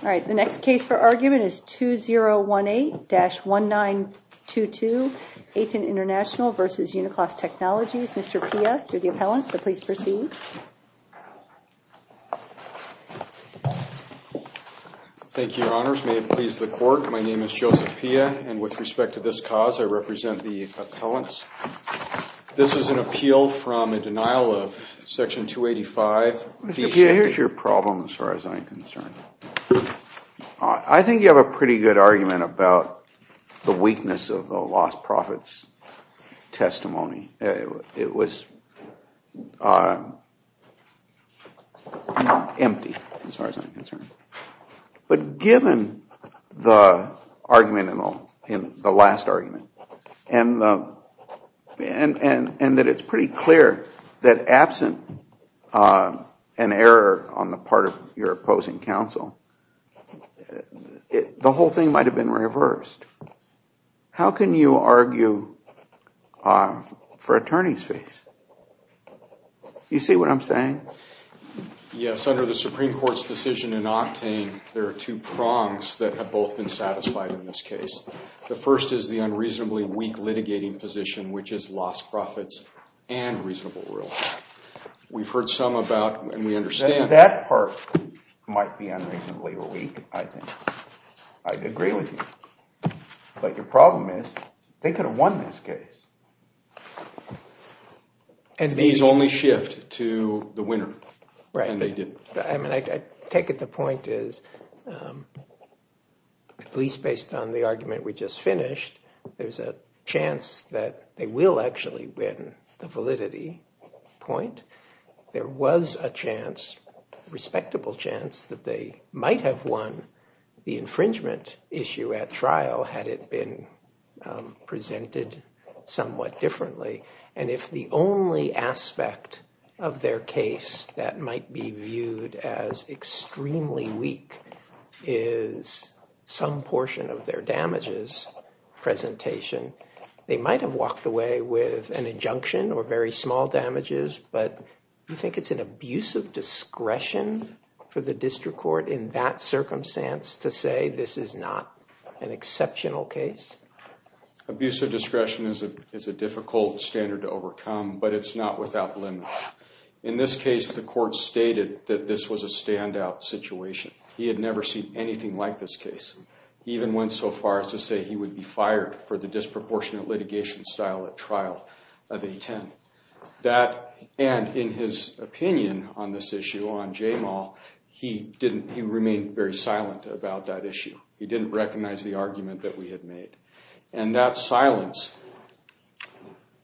2018-1922 ATEN International Co., Ltd. v. Uniclass Technology Co., Ltd. Thank you, Your Honors. May it please the Court, my name is Joseph Pia, and with respect to this cause, I represent the appellants. This is an appeal from a denial of Section 285. Here's your problem as far as I'm concerned. I think you have a pretty good argument about the weakness of the lost profits testimony. It was empty as far as I'm concerned. But given the argument in the last argument, and that it's pretty clear that absent an error on the part of your opposing counsel, the whole thing might have been reversed. How can you argue for attorney's fees? Do you see what I'm saying? Yes, under the Supreme Court's decision in Octane, there are two prongs that have both been satisfied in this case. The first is the unreasonably weak litigating position, which is lost profits and reasonable rule. We've heard some about, and we understand... That part might be unreasonably weak, I think. I'd agree with you. But your problem is, they could have won this case. These only shift to the winner. I take it the point is, at least based on the argument we just finished, there's a chance that they will actually win the validity point. There was a chance, respectable chance, that they might have won the infringement issue at trial had it been presented somewhat differently. And if the only aspect of their case that might be viewed as extremely weak is some portion of their damages presentation, they might have walked away with an injunction or very small damages. But you think it's an abuse of discretion for the district court in that circumstance to say this is not an exceptional case? Abuse of discretion is a difficult standard to overcome, but it's not without limits. In this case, the court stated that this was a standout situation. He had never seen anything like this case. He even went so far as to say he would be fired for the disproportionate litigation style at trial of A-10. And in his opinion on this issue, on J-Mal, he remained very silent about that issue. He didn't recognize the argument that we had made. And that silence...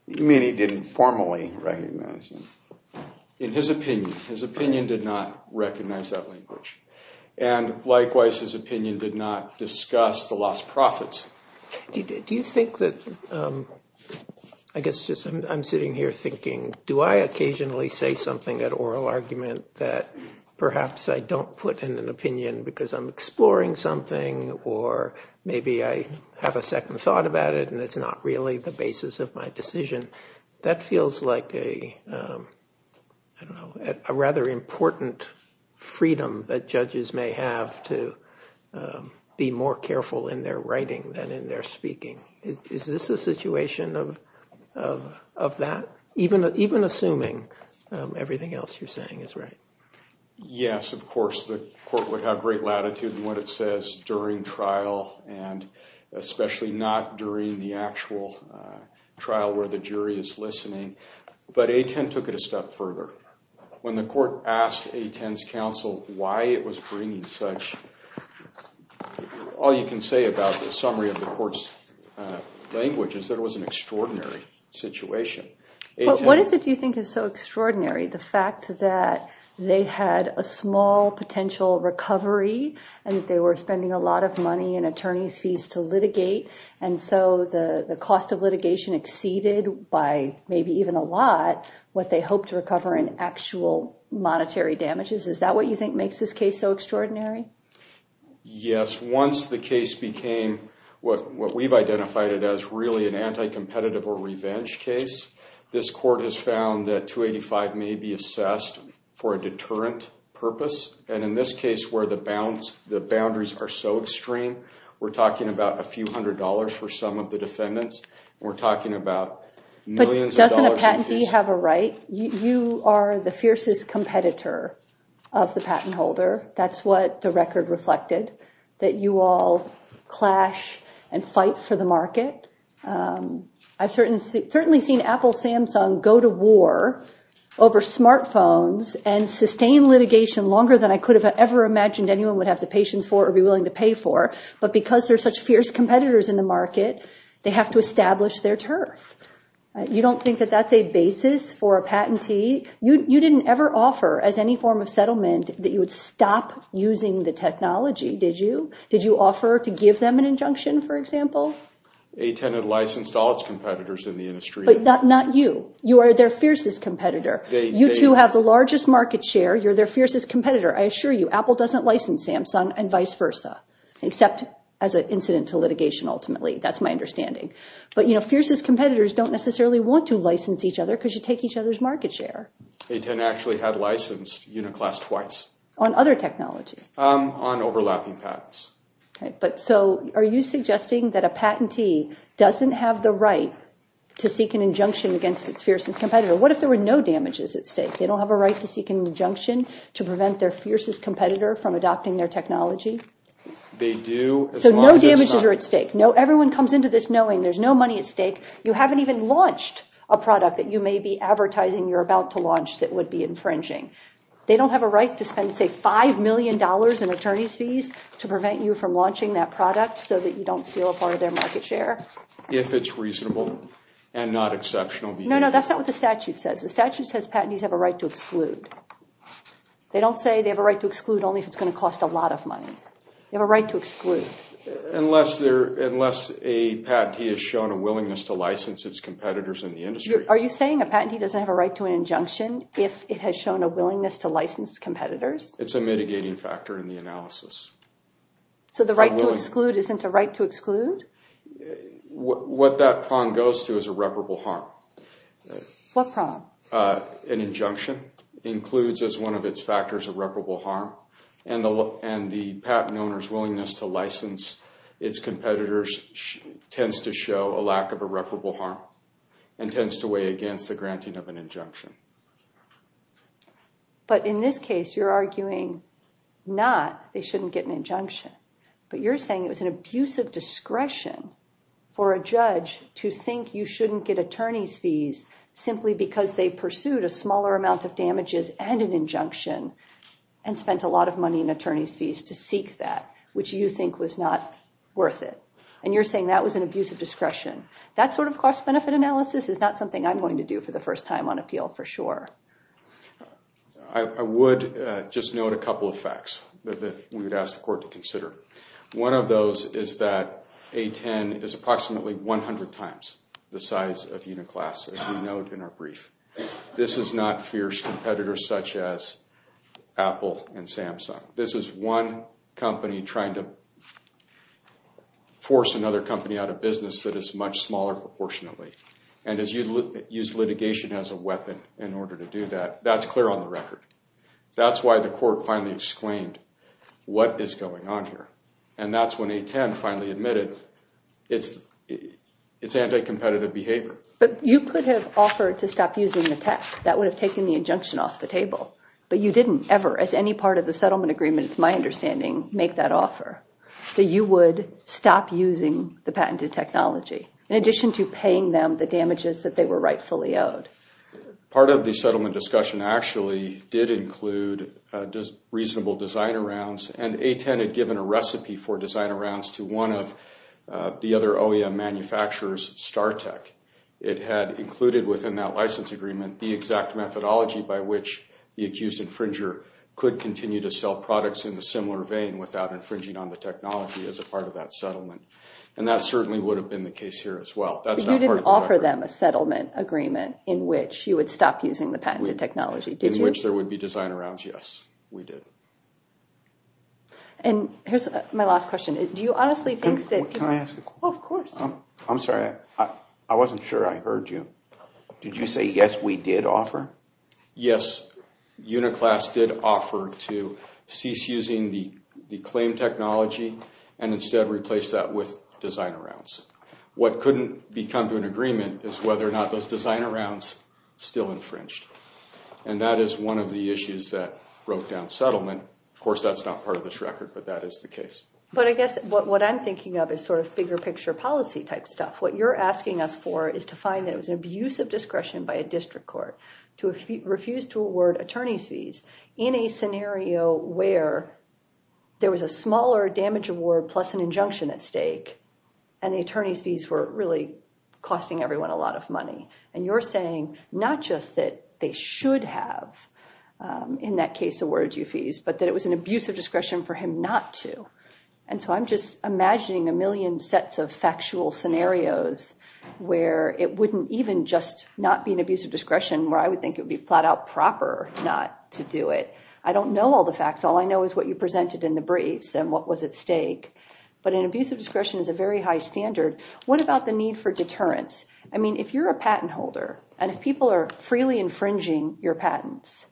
You mean he didn't formally recognize it? In his opinion. His opinion did not recognize that language. And likewise, his opinion did not discuss the lost profits. Do you think that... I guess I'm sitting here thinking, do I occasionally say something at oral argument that perhaps I don't put in an opinion because I'm exploring something, or maybe I have a second thought about it and it's not really the basis of my decision? That feels like a rather important freedom that judges may have to be more careful in their writing than in their speaking. Is this a situation of that? Even assuming everything else you're saying is right. Yes, of course. Of course the court would have great latitude in what it says during trial and especially not during the actual trial where the jury is listening. But A-10 took it a step further. When the court asked A-10's counsel why it was bringing such... All you can say about the summary of the court's language is that it was an extraordinary situation. What is it you think is so extraordinary? The fact that they had a small potential recovery and they were spending a lot of money in attorney's fees to litigate. And so the cost of litigation exceeded by maybe even a lot what they hoped to recover in actual monetary damages. Is that what you think makes this case so extraordinary? Yes, once the case became what we've identified as really an anti-competitive or revenge case, this court has found that 285 may be assessed for a deterrent purpose. And in this case where the boundaries are so extreme, we're talking about a few hundred dollars for some of the defendants. We're talking about millions of dollars in fees. But doesn't a patentee have a right? You are the fiercest competitor of the patent holder. That's what the record reflected, that you all clash and fight for the market. I've certainly seen Apple, Samsung go to war over smartphones and sustain litigation longer than I could have ever imagined anyone would have the patience for or be willing to pay for. But because they're such fierce competitors in the market, they have to establish their turf. You don't think that that's a basis for a patentee? You didn't ever offer as any form of settlement that you would stop using the technology, did you? Did you offer to give them an injunction, for example? A tenant licensed all its competitors in the industry. But not you. You are their fiercest competitor. You two have the largest market share. You're their fiercest competitor. I assure you, Apple doesn't license Samsung and vice versa, except as an incident to litigation ultimately. That's my understanding. But fiercest competitors don't necessarily want to license each other because you take each other's market share. A tenant actually had licensed UniClass twice. On other technologies? On overlapping patents. Okay. So are you suggesting that a patentee doesn't have the right to seek an injunction against its fiercest competitor? What if there were no damages at stake? They don't have a right to seek an injunction to prevent their fiercest competitor from adopting their technology? They do as long as it's not— So no damages are at stake. Everyone comes into this knowing there's no money at stake. You haven't even launched a product that you may be advertising you're about to launch that would be infringing. They don't have a right to spend, say, $5 million in attorney's fees to prevent you from launching that product so that you don't steal a part of their market share? If it's reasonable and not exceptional. No, no, that's not what the statute says. The statute says patentees have a right to exclude. They don't say they have a right to exclude only if it's going to cost a lot of money. They have a right to exclude. Unless a patentee has shown a willingness to license its competitors in the industry. Are you saying a patentee doesn't have a right to an injunction if it has shown a willingness to license competitors? It's a mitigating factor in the analysis. So the right to exclude isn't a right to exclude? What that prong goes to is irreparable harm. What prong? An injunction includes as one of its factors irreparable harm and the patent owner's willingness to license its competitors tends to show a lack of irreparable harm and tends to weigh against the granting of an injunction. But in this case, you're arguing not they shouldn't get an injunction. But you're saying it was an abuse of discretion for a judge to think you shouldn't get attorney's fees simply because they pursued a smaller amount of damages and an injunction and spent a lot of money in attorney's fees to seek that, which you think was not worth it. And you're saying that was an abuse of discretion. That sort of cost-benefit analysis is not something I'm going to do for the first time on appeal for sure. I would just note a couple of facts that we would ask the court to consider. One of those is that A10 is approximately 100 times the size of Uniclass, as we note in our brief. This is not fierce competitors such as Apple and Samsung. This is one company trying to force another company out of business that is much smaller proportionately and has used litigation as a weapon in order to do that. That's clear on the record. That's why the court finally exclaimed, what is going on here? And that's when A10 finally admitted it's anti-competitive behavior. But you could have offered to stop using the tech. That would have taken the injunction off the table. But you didn't ever, as any part of the settlement agreement, it's my understanding, make that offer, that you would stop using the patented technology in addition to paying them the damages that they were rightfully owed. Part of the settlement discussion actually did include reasonable designer rounds, and A10 had given a recipe for designer rounds to one of the other OEM manufacturers, StarTech. It had included within that license agreement the exact methodology by which the accused infringer could continue to sell products in a similar vein without infringing on the technology as a part of that settlement. And that certainly would have been the case here as well. But you didn't offer them a settlement agreement in which you would stop using the patented technology, did you? In which there would be designer rounds, yes, we did. And here's my last question. Do you honestly think that— Can I ask a question? Of course. I'm sorry. I wasn't sure I heard you. Did you say, yes, we did offer? Yes, Uniclass did offer to cease using the claim technology and instead replace that with designer rounds. What couldn't be come to an agreement is whether or not those designer rounds still infringed. And that is one of the issues that broke down settlement. Of course, that's not part of this record, but that is the case. But I guess what I'm thinking of is sort of bigger picture policy type stuff. What you're asking us for is to find that it was an abuse of discretion by a district court to refuse to award attorney's fees in a scenario where there was a smaller damage award plus an injunction at stake and the attorney's fees were really costing everyone a lot of money. And you're saying not just that they should have, in that case, awarded you fees, but that it was an abuse of discretion for him not to. And so I'm just imagining a million sets of factual scenarios where it wouldn't even just not be an abuse of discretion, where I would think it would be flat out proper not to do it. I don't know all the facts. All I know is what you presented in the briefs and what was at stake. But an abuse of discretion is a very high standard. What about the need for deterrence? I mean, if you're a patent holder and if people are freely infringing your patents,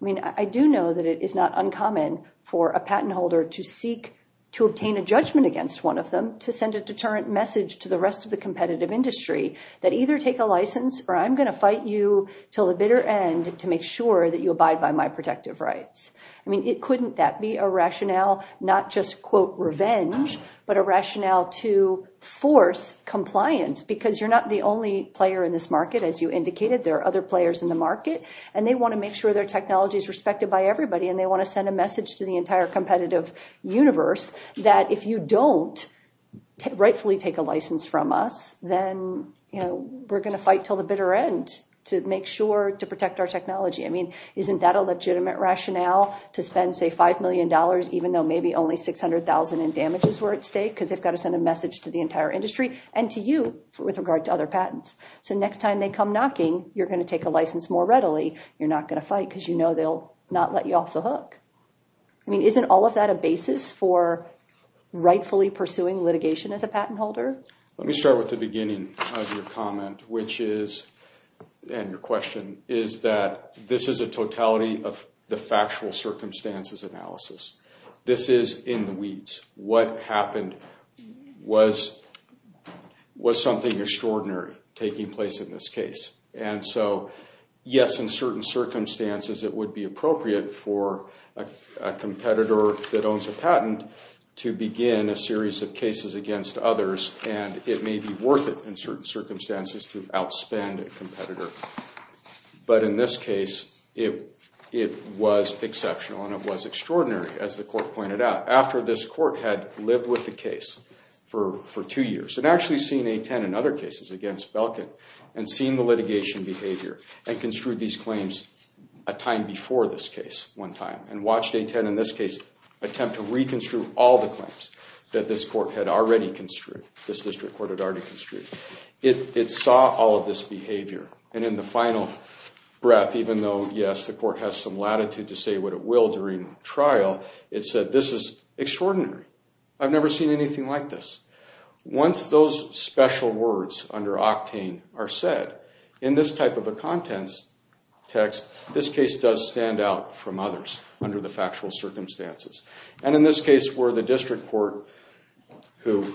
I mean, I do know that it is not uncommon for a patent holder to seek to obtain a judgment against one of them, to send a deterrent message to the rest of the competitive industry that either take a license or I'm going to fight you till the bitter end to make sure that you abide by my protective rights. I mean, couldn't that be a rationale not just, quote, revenge, but a rationale to force compliance? Because you're not the only player in this market, as you indicated. There are other players in the market and they want to make sure their technology is respected by everybody and they want to send a message to the entire competitive universe that if you don't rightfully take a license from us, then we're going to fight till the bitter end to make sure to protect our technology. I mean, isn't that a legitimate rationale to spend, say, $5 million, even though maybe only $600,000 in damages were at stake? Because they've got to send a message to the entire industry and to you with regard to other patents. So next time they come knocking, you're going to take a license more readily. You're not going to fight because you know they'll not let you off the hook. I mean, isn't all of that a basis for rightfully pursuing litigation as a patent holder? Let me start with the beginning of your comment, which is, and your question, is that this is a totality of the factual circumstances analysis. This is in the weeds. What happened was something extraordinary taking place in this case. And so, yes, in certain circumstances it would be appropriate for a competitor that owns a patent to begin a series of cases against others, and it may be worth it in certain circumstances to outspend a competitor. But in this case, it was exceptional and it was extraordinary, as the court pointed out, after this court had lived with the case for two years and actually seen A10 in other cases against Belkin and seen the litigation behavior and construed these claims a time before this case one time and watched A10 in this case attempt to reconstruct all the claims that this court had already construed, this district court had already construed. It saw all of this behavior. And in the final breath, even though, yes, the court has some latitude to say what it will during trial, it said, this is extraordinary. I've never seen anything like this. Once those special words under octane are said, in this type of a contents text, this case does stand out from others under the factual circumstances. And in this case, where the district court, who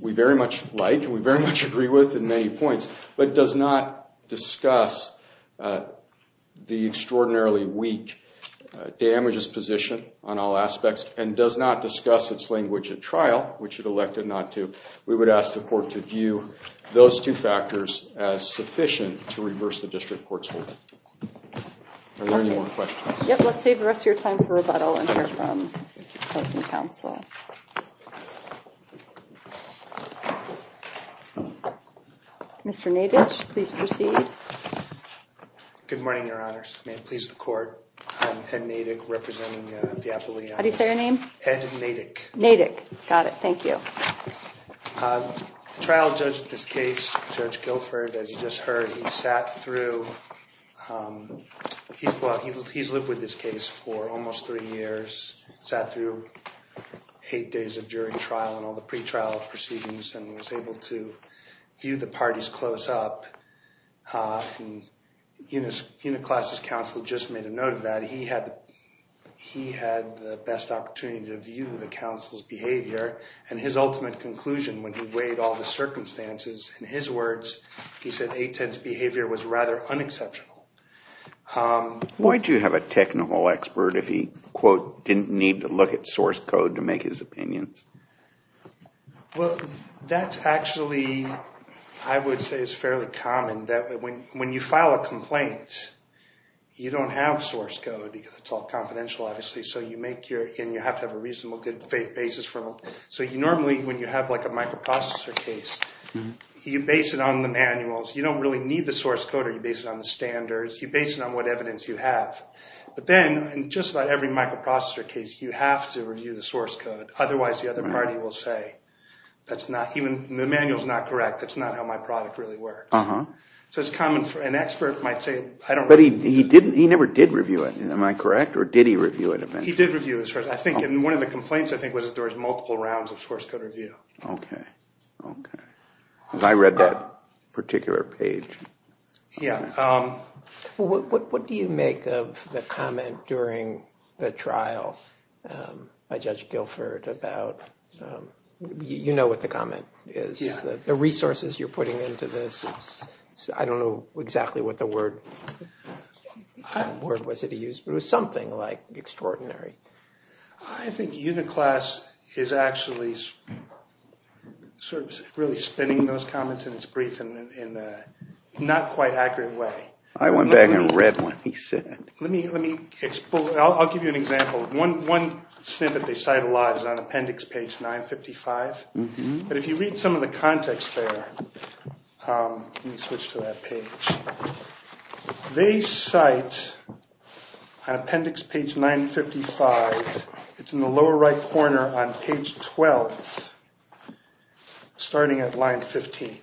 we very much like and we very much agree with in many points, but does not discuss the extraordinarily weak damages position on all aspects and does not discuss its language at trial, which it elected not to, we would ask the court to view those two factors as sufficient to reverse the district court's hold. Are there any more questions? Yep. Let's save the rest of your time for rebuttal and hear from the counsel. Mr. Nadich, please proceed. Good morning, Your Honors. May it please the court. I'm Ed Nadich representing the Appalachian. How do you say your name? Ed Nadich. Nadich. Got it. Thank you. The trial judge in this case, Judge Guilford, as you just heard, he's lived with this case for almost three years, sat through eight days of jury trial and all the pretrial proceedings and was able to view the parties close up. And Uniclass's counsel just made a note of that. He had the best opportunity to view the counsel's behavior and his ultimate conclusion when he weighed all the circumstances. In his words, he said 810's behavior was rather unexceptional. Why do you have a technical expert if he, quote, didn't need to look at source code to make his opinions? Well, that's actually, I would say it's fairly common that when you file a complaint, you don't have source code because it's all confidential, obviously. So you make your, and you have to have a reasonable good basis for them. So you normally, when you have like a microprocessor case, you base it on the manuals. You don't really need the source code or you base it on the standards. You base it on what evidence you have. But then, in just about every microprocessor case, you have to review the source code. Otherwise, the other party will say that's not, even the manual's not correct. That's not how my product really works. So it's common for an expert might say, I don't know. But he didn't, he never did review it. Am I correct, or did he review it eventually? He did review it. One of the complaints, I think, was that there was multiple rounds of source code review. Okay, okay. Because I read that particular page. Yeah. What do you make of the comment during the trial by Judge Guilford about, you know what the comment is. The resources you're putting into this. I don't know exactly what the word was that he used, but it was something like extraordinary. I think Uniclass is actually sort of really spinning those comments in its brief in a not quite accurate way. I went back and read what he said. Let me, I'll give you an example. One snippet they cite a lot is on appendix page 955. But if you read some of the context there, let me switch to that page. They cite on appendix page 955, it's in the lower right corner on page 12, starting at line 15.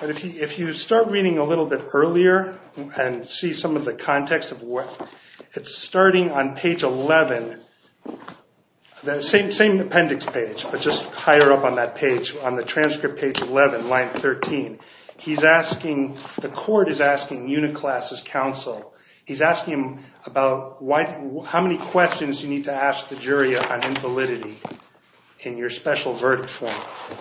But if you start reading a little bit earlier and see some of the context of what, it's starting on page 11. The same appendix page, but just higher up on that page, on the transcript page 11, line 13. He's asking, the court is asking Uniclass's counsel. He's asking him about how many questions you need to ask the jury on invalidity in your special verdict form.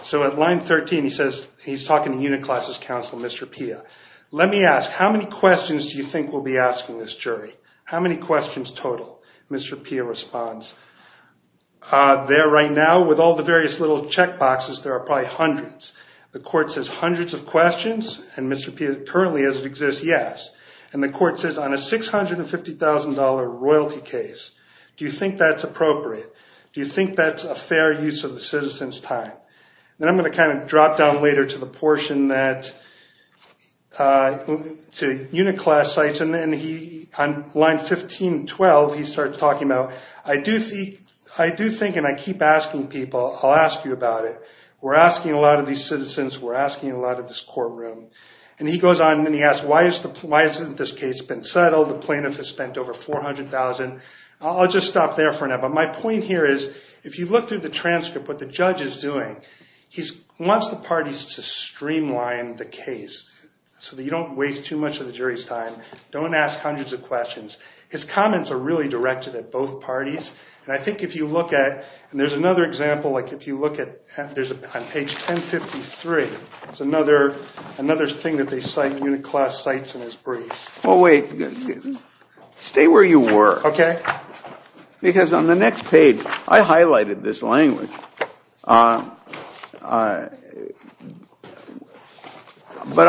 So at line 13 he says, he's talking to Uniclass's counsel, Mr. Pia. Let me ask, how many questions do you think we'll be asking this jury? How many questions total, Mr. Pia responds. There right now with all the various little check boxes, there are probably hundreds. The court says hundreds of questions, and Mr. Pia currently as it exists, yes. And the court says on a $650,000 royalty case, do you think that's appropriate? Do you think that's a fair use of the citizen's time? Then I'm going to kind of drop down later to the portion that, to Uniclass sites. And then he, on line 1512, he starts talking about, I do think, and I keep asking people, I'll ask you about it. We're asking a lot of these citizens, we're asking a lot of this courtroom. And he goes on and he asks, why hasn't this case been settled? The plaintiff has spent over $400,000. I'll just stop there for now. But my point here is, if you look through the transcript, what the judge is doing, he wants the parties to streamline the case so that you don't waste too much of the jury's time. Don't ask hundreds of questions. His comments are really directed at both parties. And I think if you look at, and there's another example, like if you look at, there's on page 1053, there's another thing that they cite, Uniclass cites in his brief. Oh, wait. Stay where you were. Okay. Because on the next page, I highlighted this language. But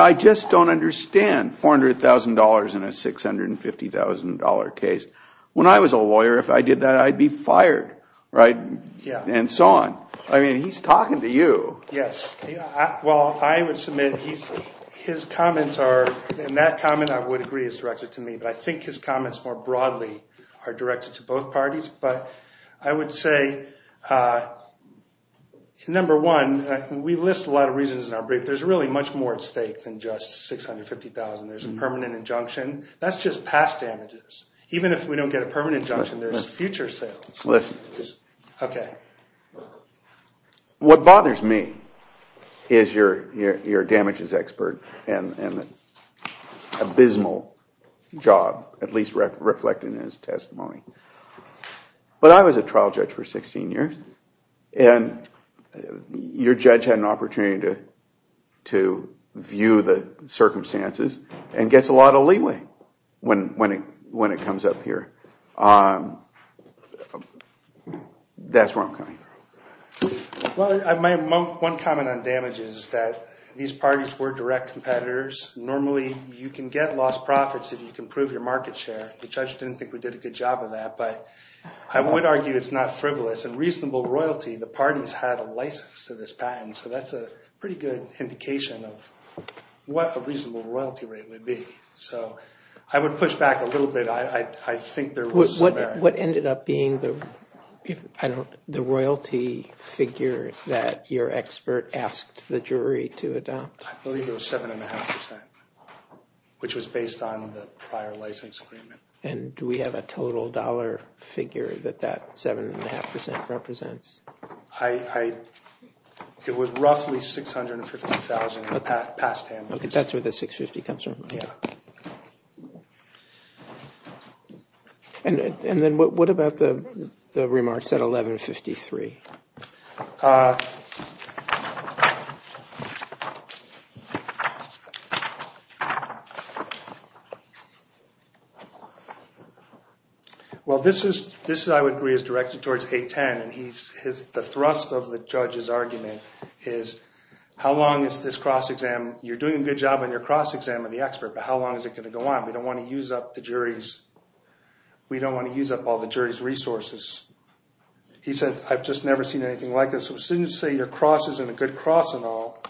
I just don't understand $400,000 in a $650,000 case. When I was a lawyer, if I did that, I'd be fired, right? Yeah. And so on. I mean, he's talking to you. Yes. Well, I would submit his comments are, and that comment, I would agree, is directed to me. But I think his comments more broadly are directed to both parties. But I would say, number one, we list a lot of reasons in our brief. There's really much more at stake than just $650,000. There's a permanent injunction. That's just past damages. Even if we don't get a permanent injunction, there's future sales. Listen. Okay. What bothers me is your damages expert and abysmal job, at least reflected in his testimony. But I was a trial judge for 16 years. And your judge had an opportunity to view the circumstances and gets a lot of leeway when it comes up here. That's where I'm coming from. Well, my one comment on damages is that these parties were direct competitors. Normally, you can get lost profits if you can prove your market share. The judge didn't think we did a good job of that. But I would argue it's not frivolous. And reasonable royalty, the parties had a license to this patent. So that's a pretty good indication of what a reasonable royalty rate would be. So I would push back a little bit. What ended up being the royalty figure that your expert asked the jury to adopt? I believe it was 7.5%, which was based on the prior license agreement. And do we have a total dollar figure that that 7.5% represents? It was roughly $650,000 past damages. Okay, that's where the $650,000 comes from. Yeah. And then what about the remarks at 11.53? Well, this, I would agree, is directed towards 8.10. And the thrust of the judge's argument is, how long is this cross-exam? You're doing a good job on your cross-exam of the expert, but how long is it going to go on? We don't want to use up the jury's resources. He said, I've just never seen anything like this. So as soon as you say your cross isn't a good cross and all,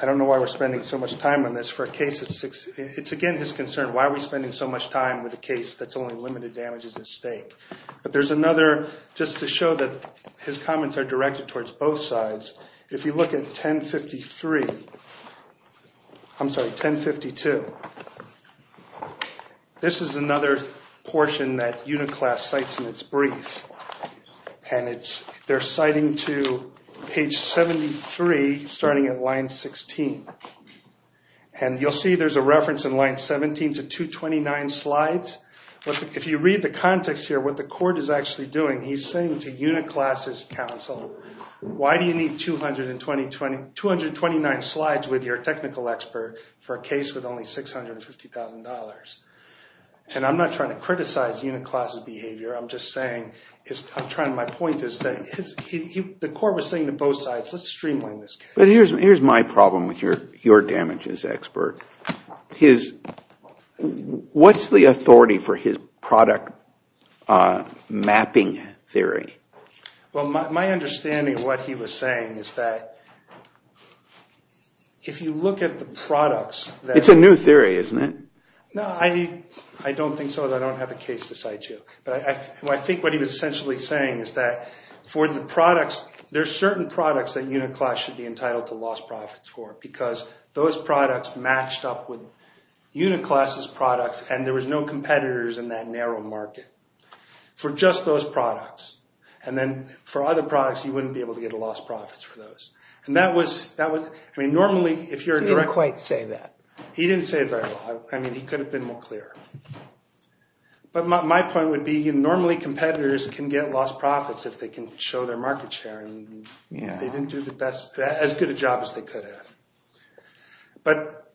I don't know why we're spending so much time on this for a case of six. It's, again, his concern. Why are we spending so much time with a case that's only limited damages at stake? But there's another, just to show that his comments are directed towards both sides. If you look at 10.53, I'm sorry, 10.52, this is another portion that Uniclass cites in its brief. And they're citing to page 73, starting at line 16. And you'll see there's a reference in line 17 to 229 slides. If you read the context here, what the court is actually doing, he's saying to Uniclass's counsel, why do you need 229 slides with your technical expert for a case with only $650,000? And I'm not trying to criticize Uniclass's behavior. I'm just saying, my point is that the court was saying to both sides, let's streamline this case. But here's my problem with your damages expert. What's the authority for his product mapping theory? Well, my understanding of what he was saying is that if you look at the products that... It's a new theory, isn't it? No, I don't think so. I don't have a case to cite you. But I think what he was essentially saying is that for the products, there's certain products that Uniclass should be entitled to lost profits for because those products matched up with Uniclass's products and there was no competitors in that narrow market for just those products. And then for other products, you wouldn't be able to get a lost profits for those. And that was... He didn't quite say that. He didn't say it very well. I mean, he could have been more clear. But my point would be normally competitors can get lost profits if they can show their market share. They didn't do as good a job as they could have. But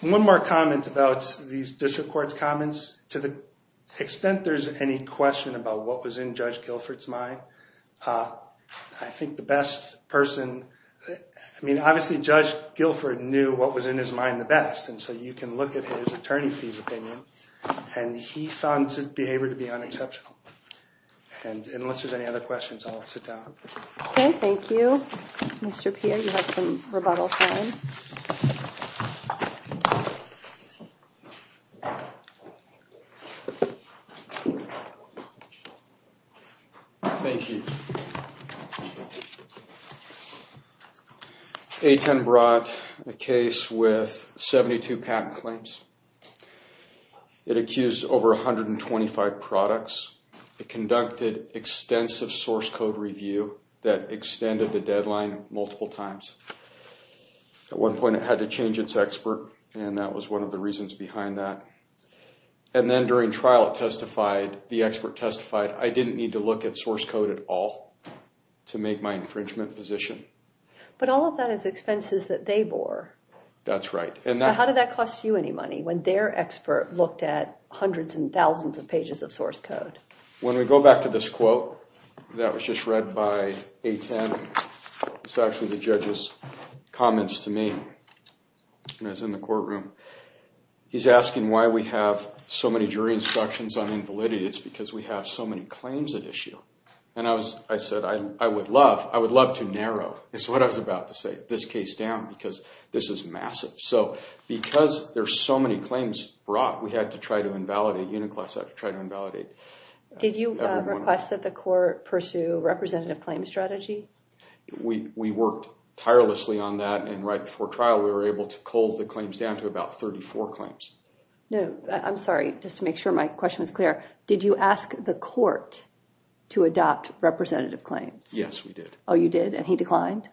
one more comment about these district court's comments. To the extent there's any question about what was in Judge Guilford's mind, I think the best person... I mean, obviously Judge Guilford knew what was in his mind the best. And so you can look at his attorney's opinion. And he found his behavior to be unexceptional. And unless there's any other questions, I'll sit down. Okay, thank you. Mr. Pierre, you have some rebuttal time. Thank you. Thank you. A10 brought a case with 72 patent claims. It accused over 125 products. It conducted extensive source code review that extended the deadline multiple times. At one point, it had to change its expert. And that was one of the reasons behind that. And then during trial, the expert testified, I didn't need to look at source code at all to make my infringement position. But all of that is expenses that they bore. That's right. So how did that cost you any money when their expert looked at hundreds and thousands of pages of source code? When we go back to this quote that was just read by A10, it's actually the judge's comments to me when I was in the courtroom. He's asking why we have so many jury instructions on invalidity. It's because we have so many claims at issue. And I said, I would love to narrow, it's what I was about to say, this case down because this is massive. So because there's so many claims brought, we had to try to invalidate. Uniclass had to try to invalidate. Did you request that the court pursue representative claim strategy? We worked tirelessly on that. And right before trial, we were able to cold the claims down to about 34 claims. No, I'm sorry, just to make sure my question was clear. Did you ask the court to adopt representative claims? Yes, we did. Oh, you did? And he declined?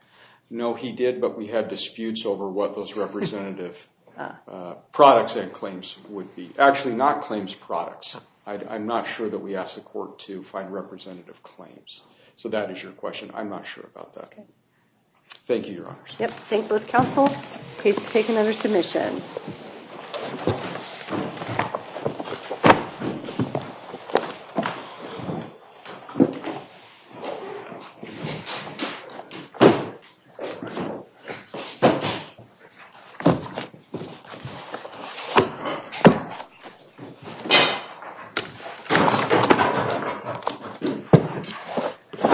No, he did. But we had disputes over what those representative products and claims would be. Actually, not claims products. I'm not sure that we asked the court to find representative claims. So that is your question. I'm not sure about that. Thank you, Your Honors. Thank both counsel. Please take another submission. Thank you.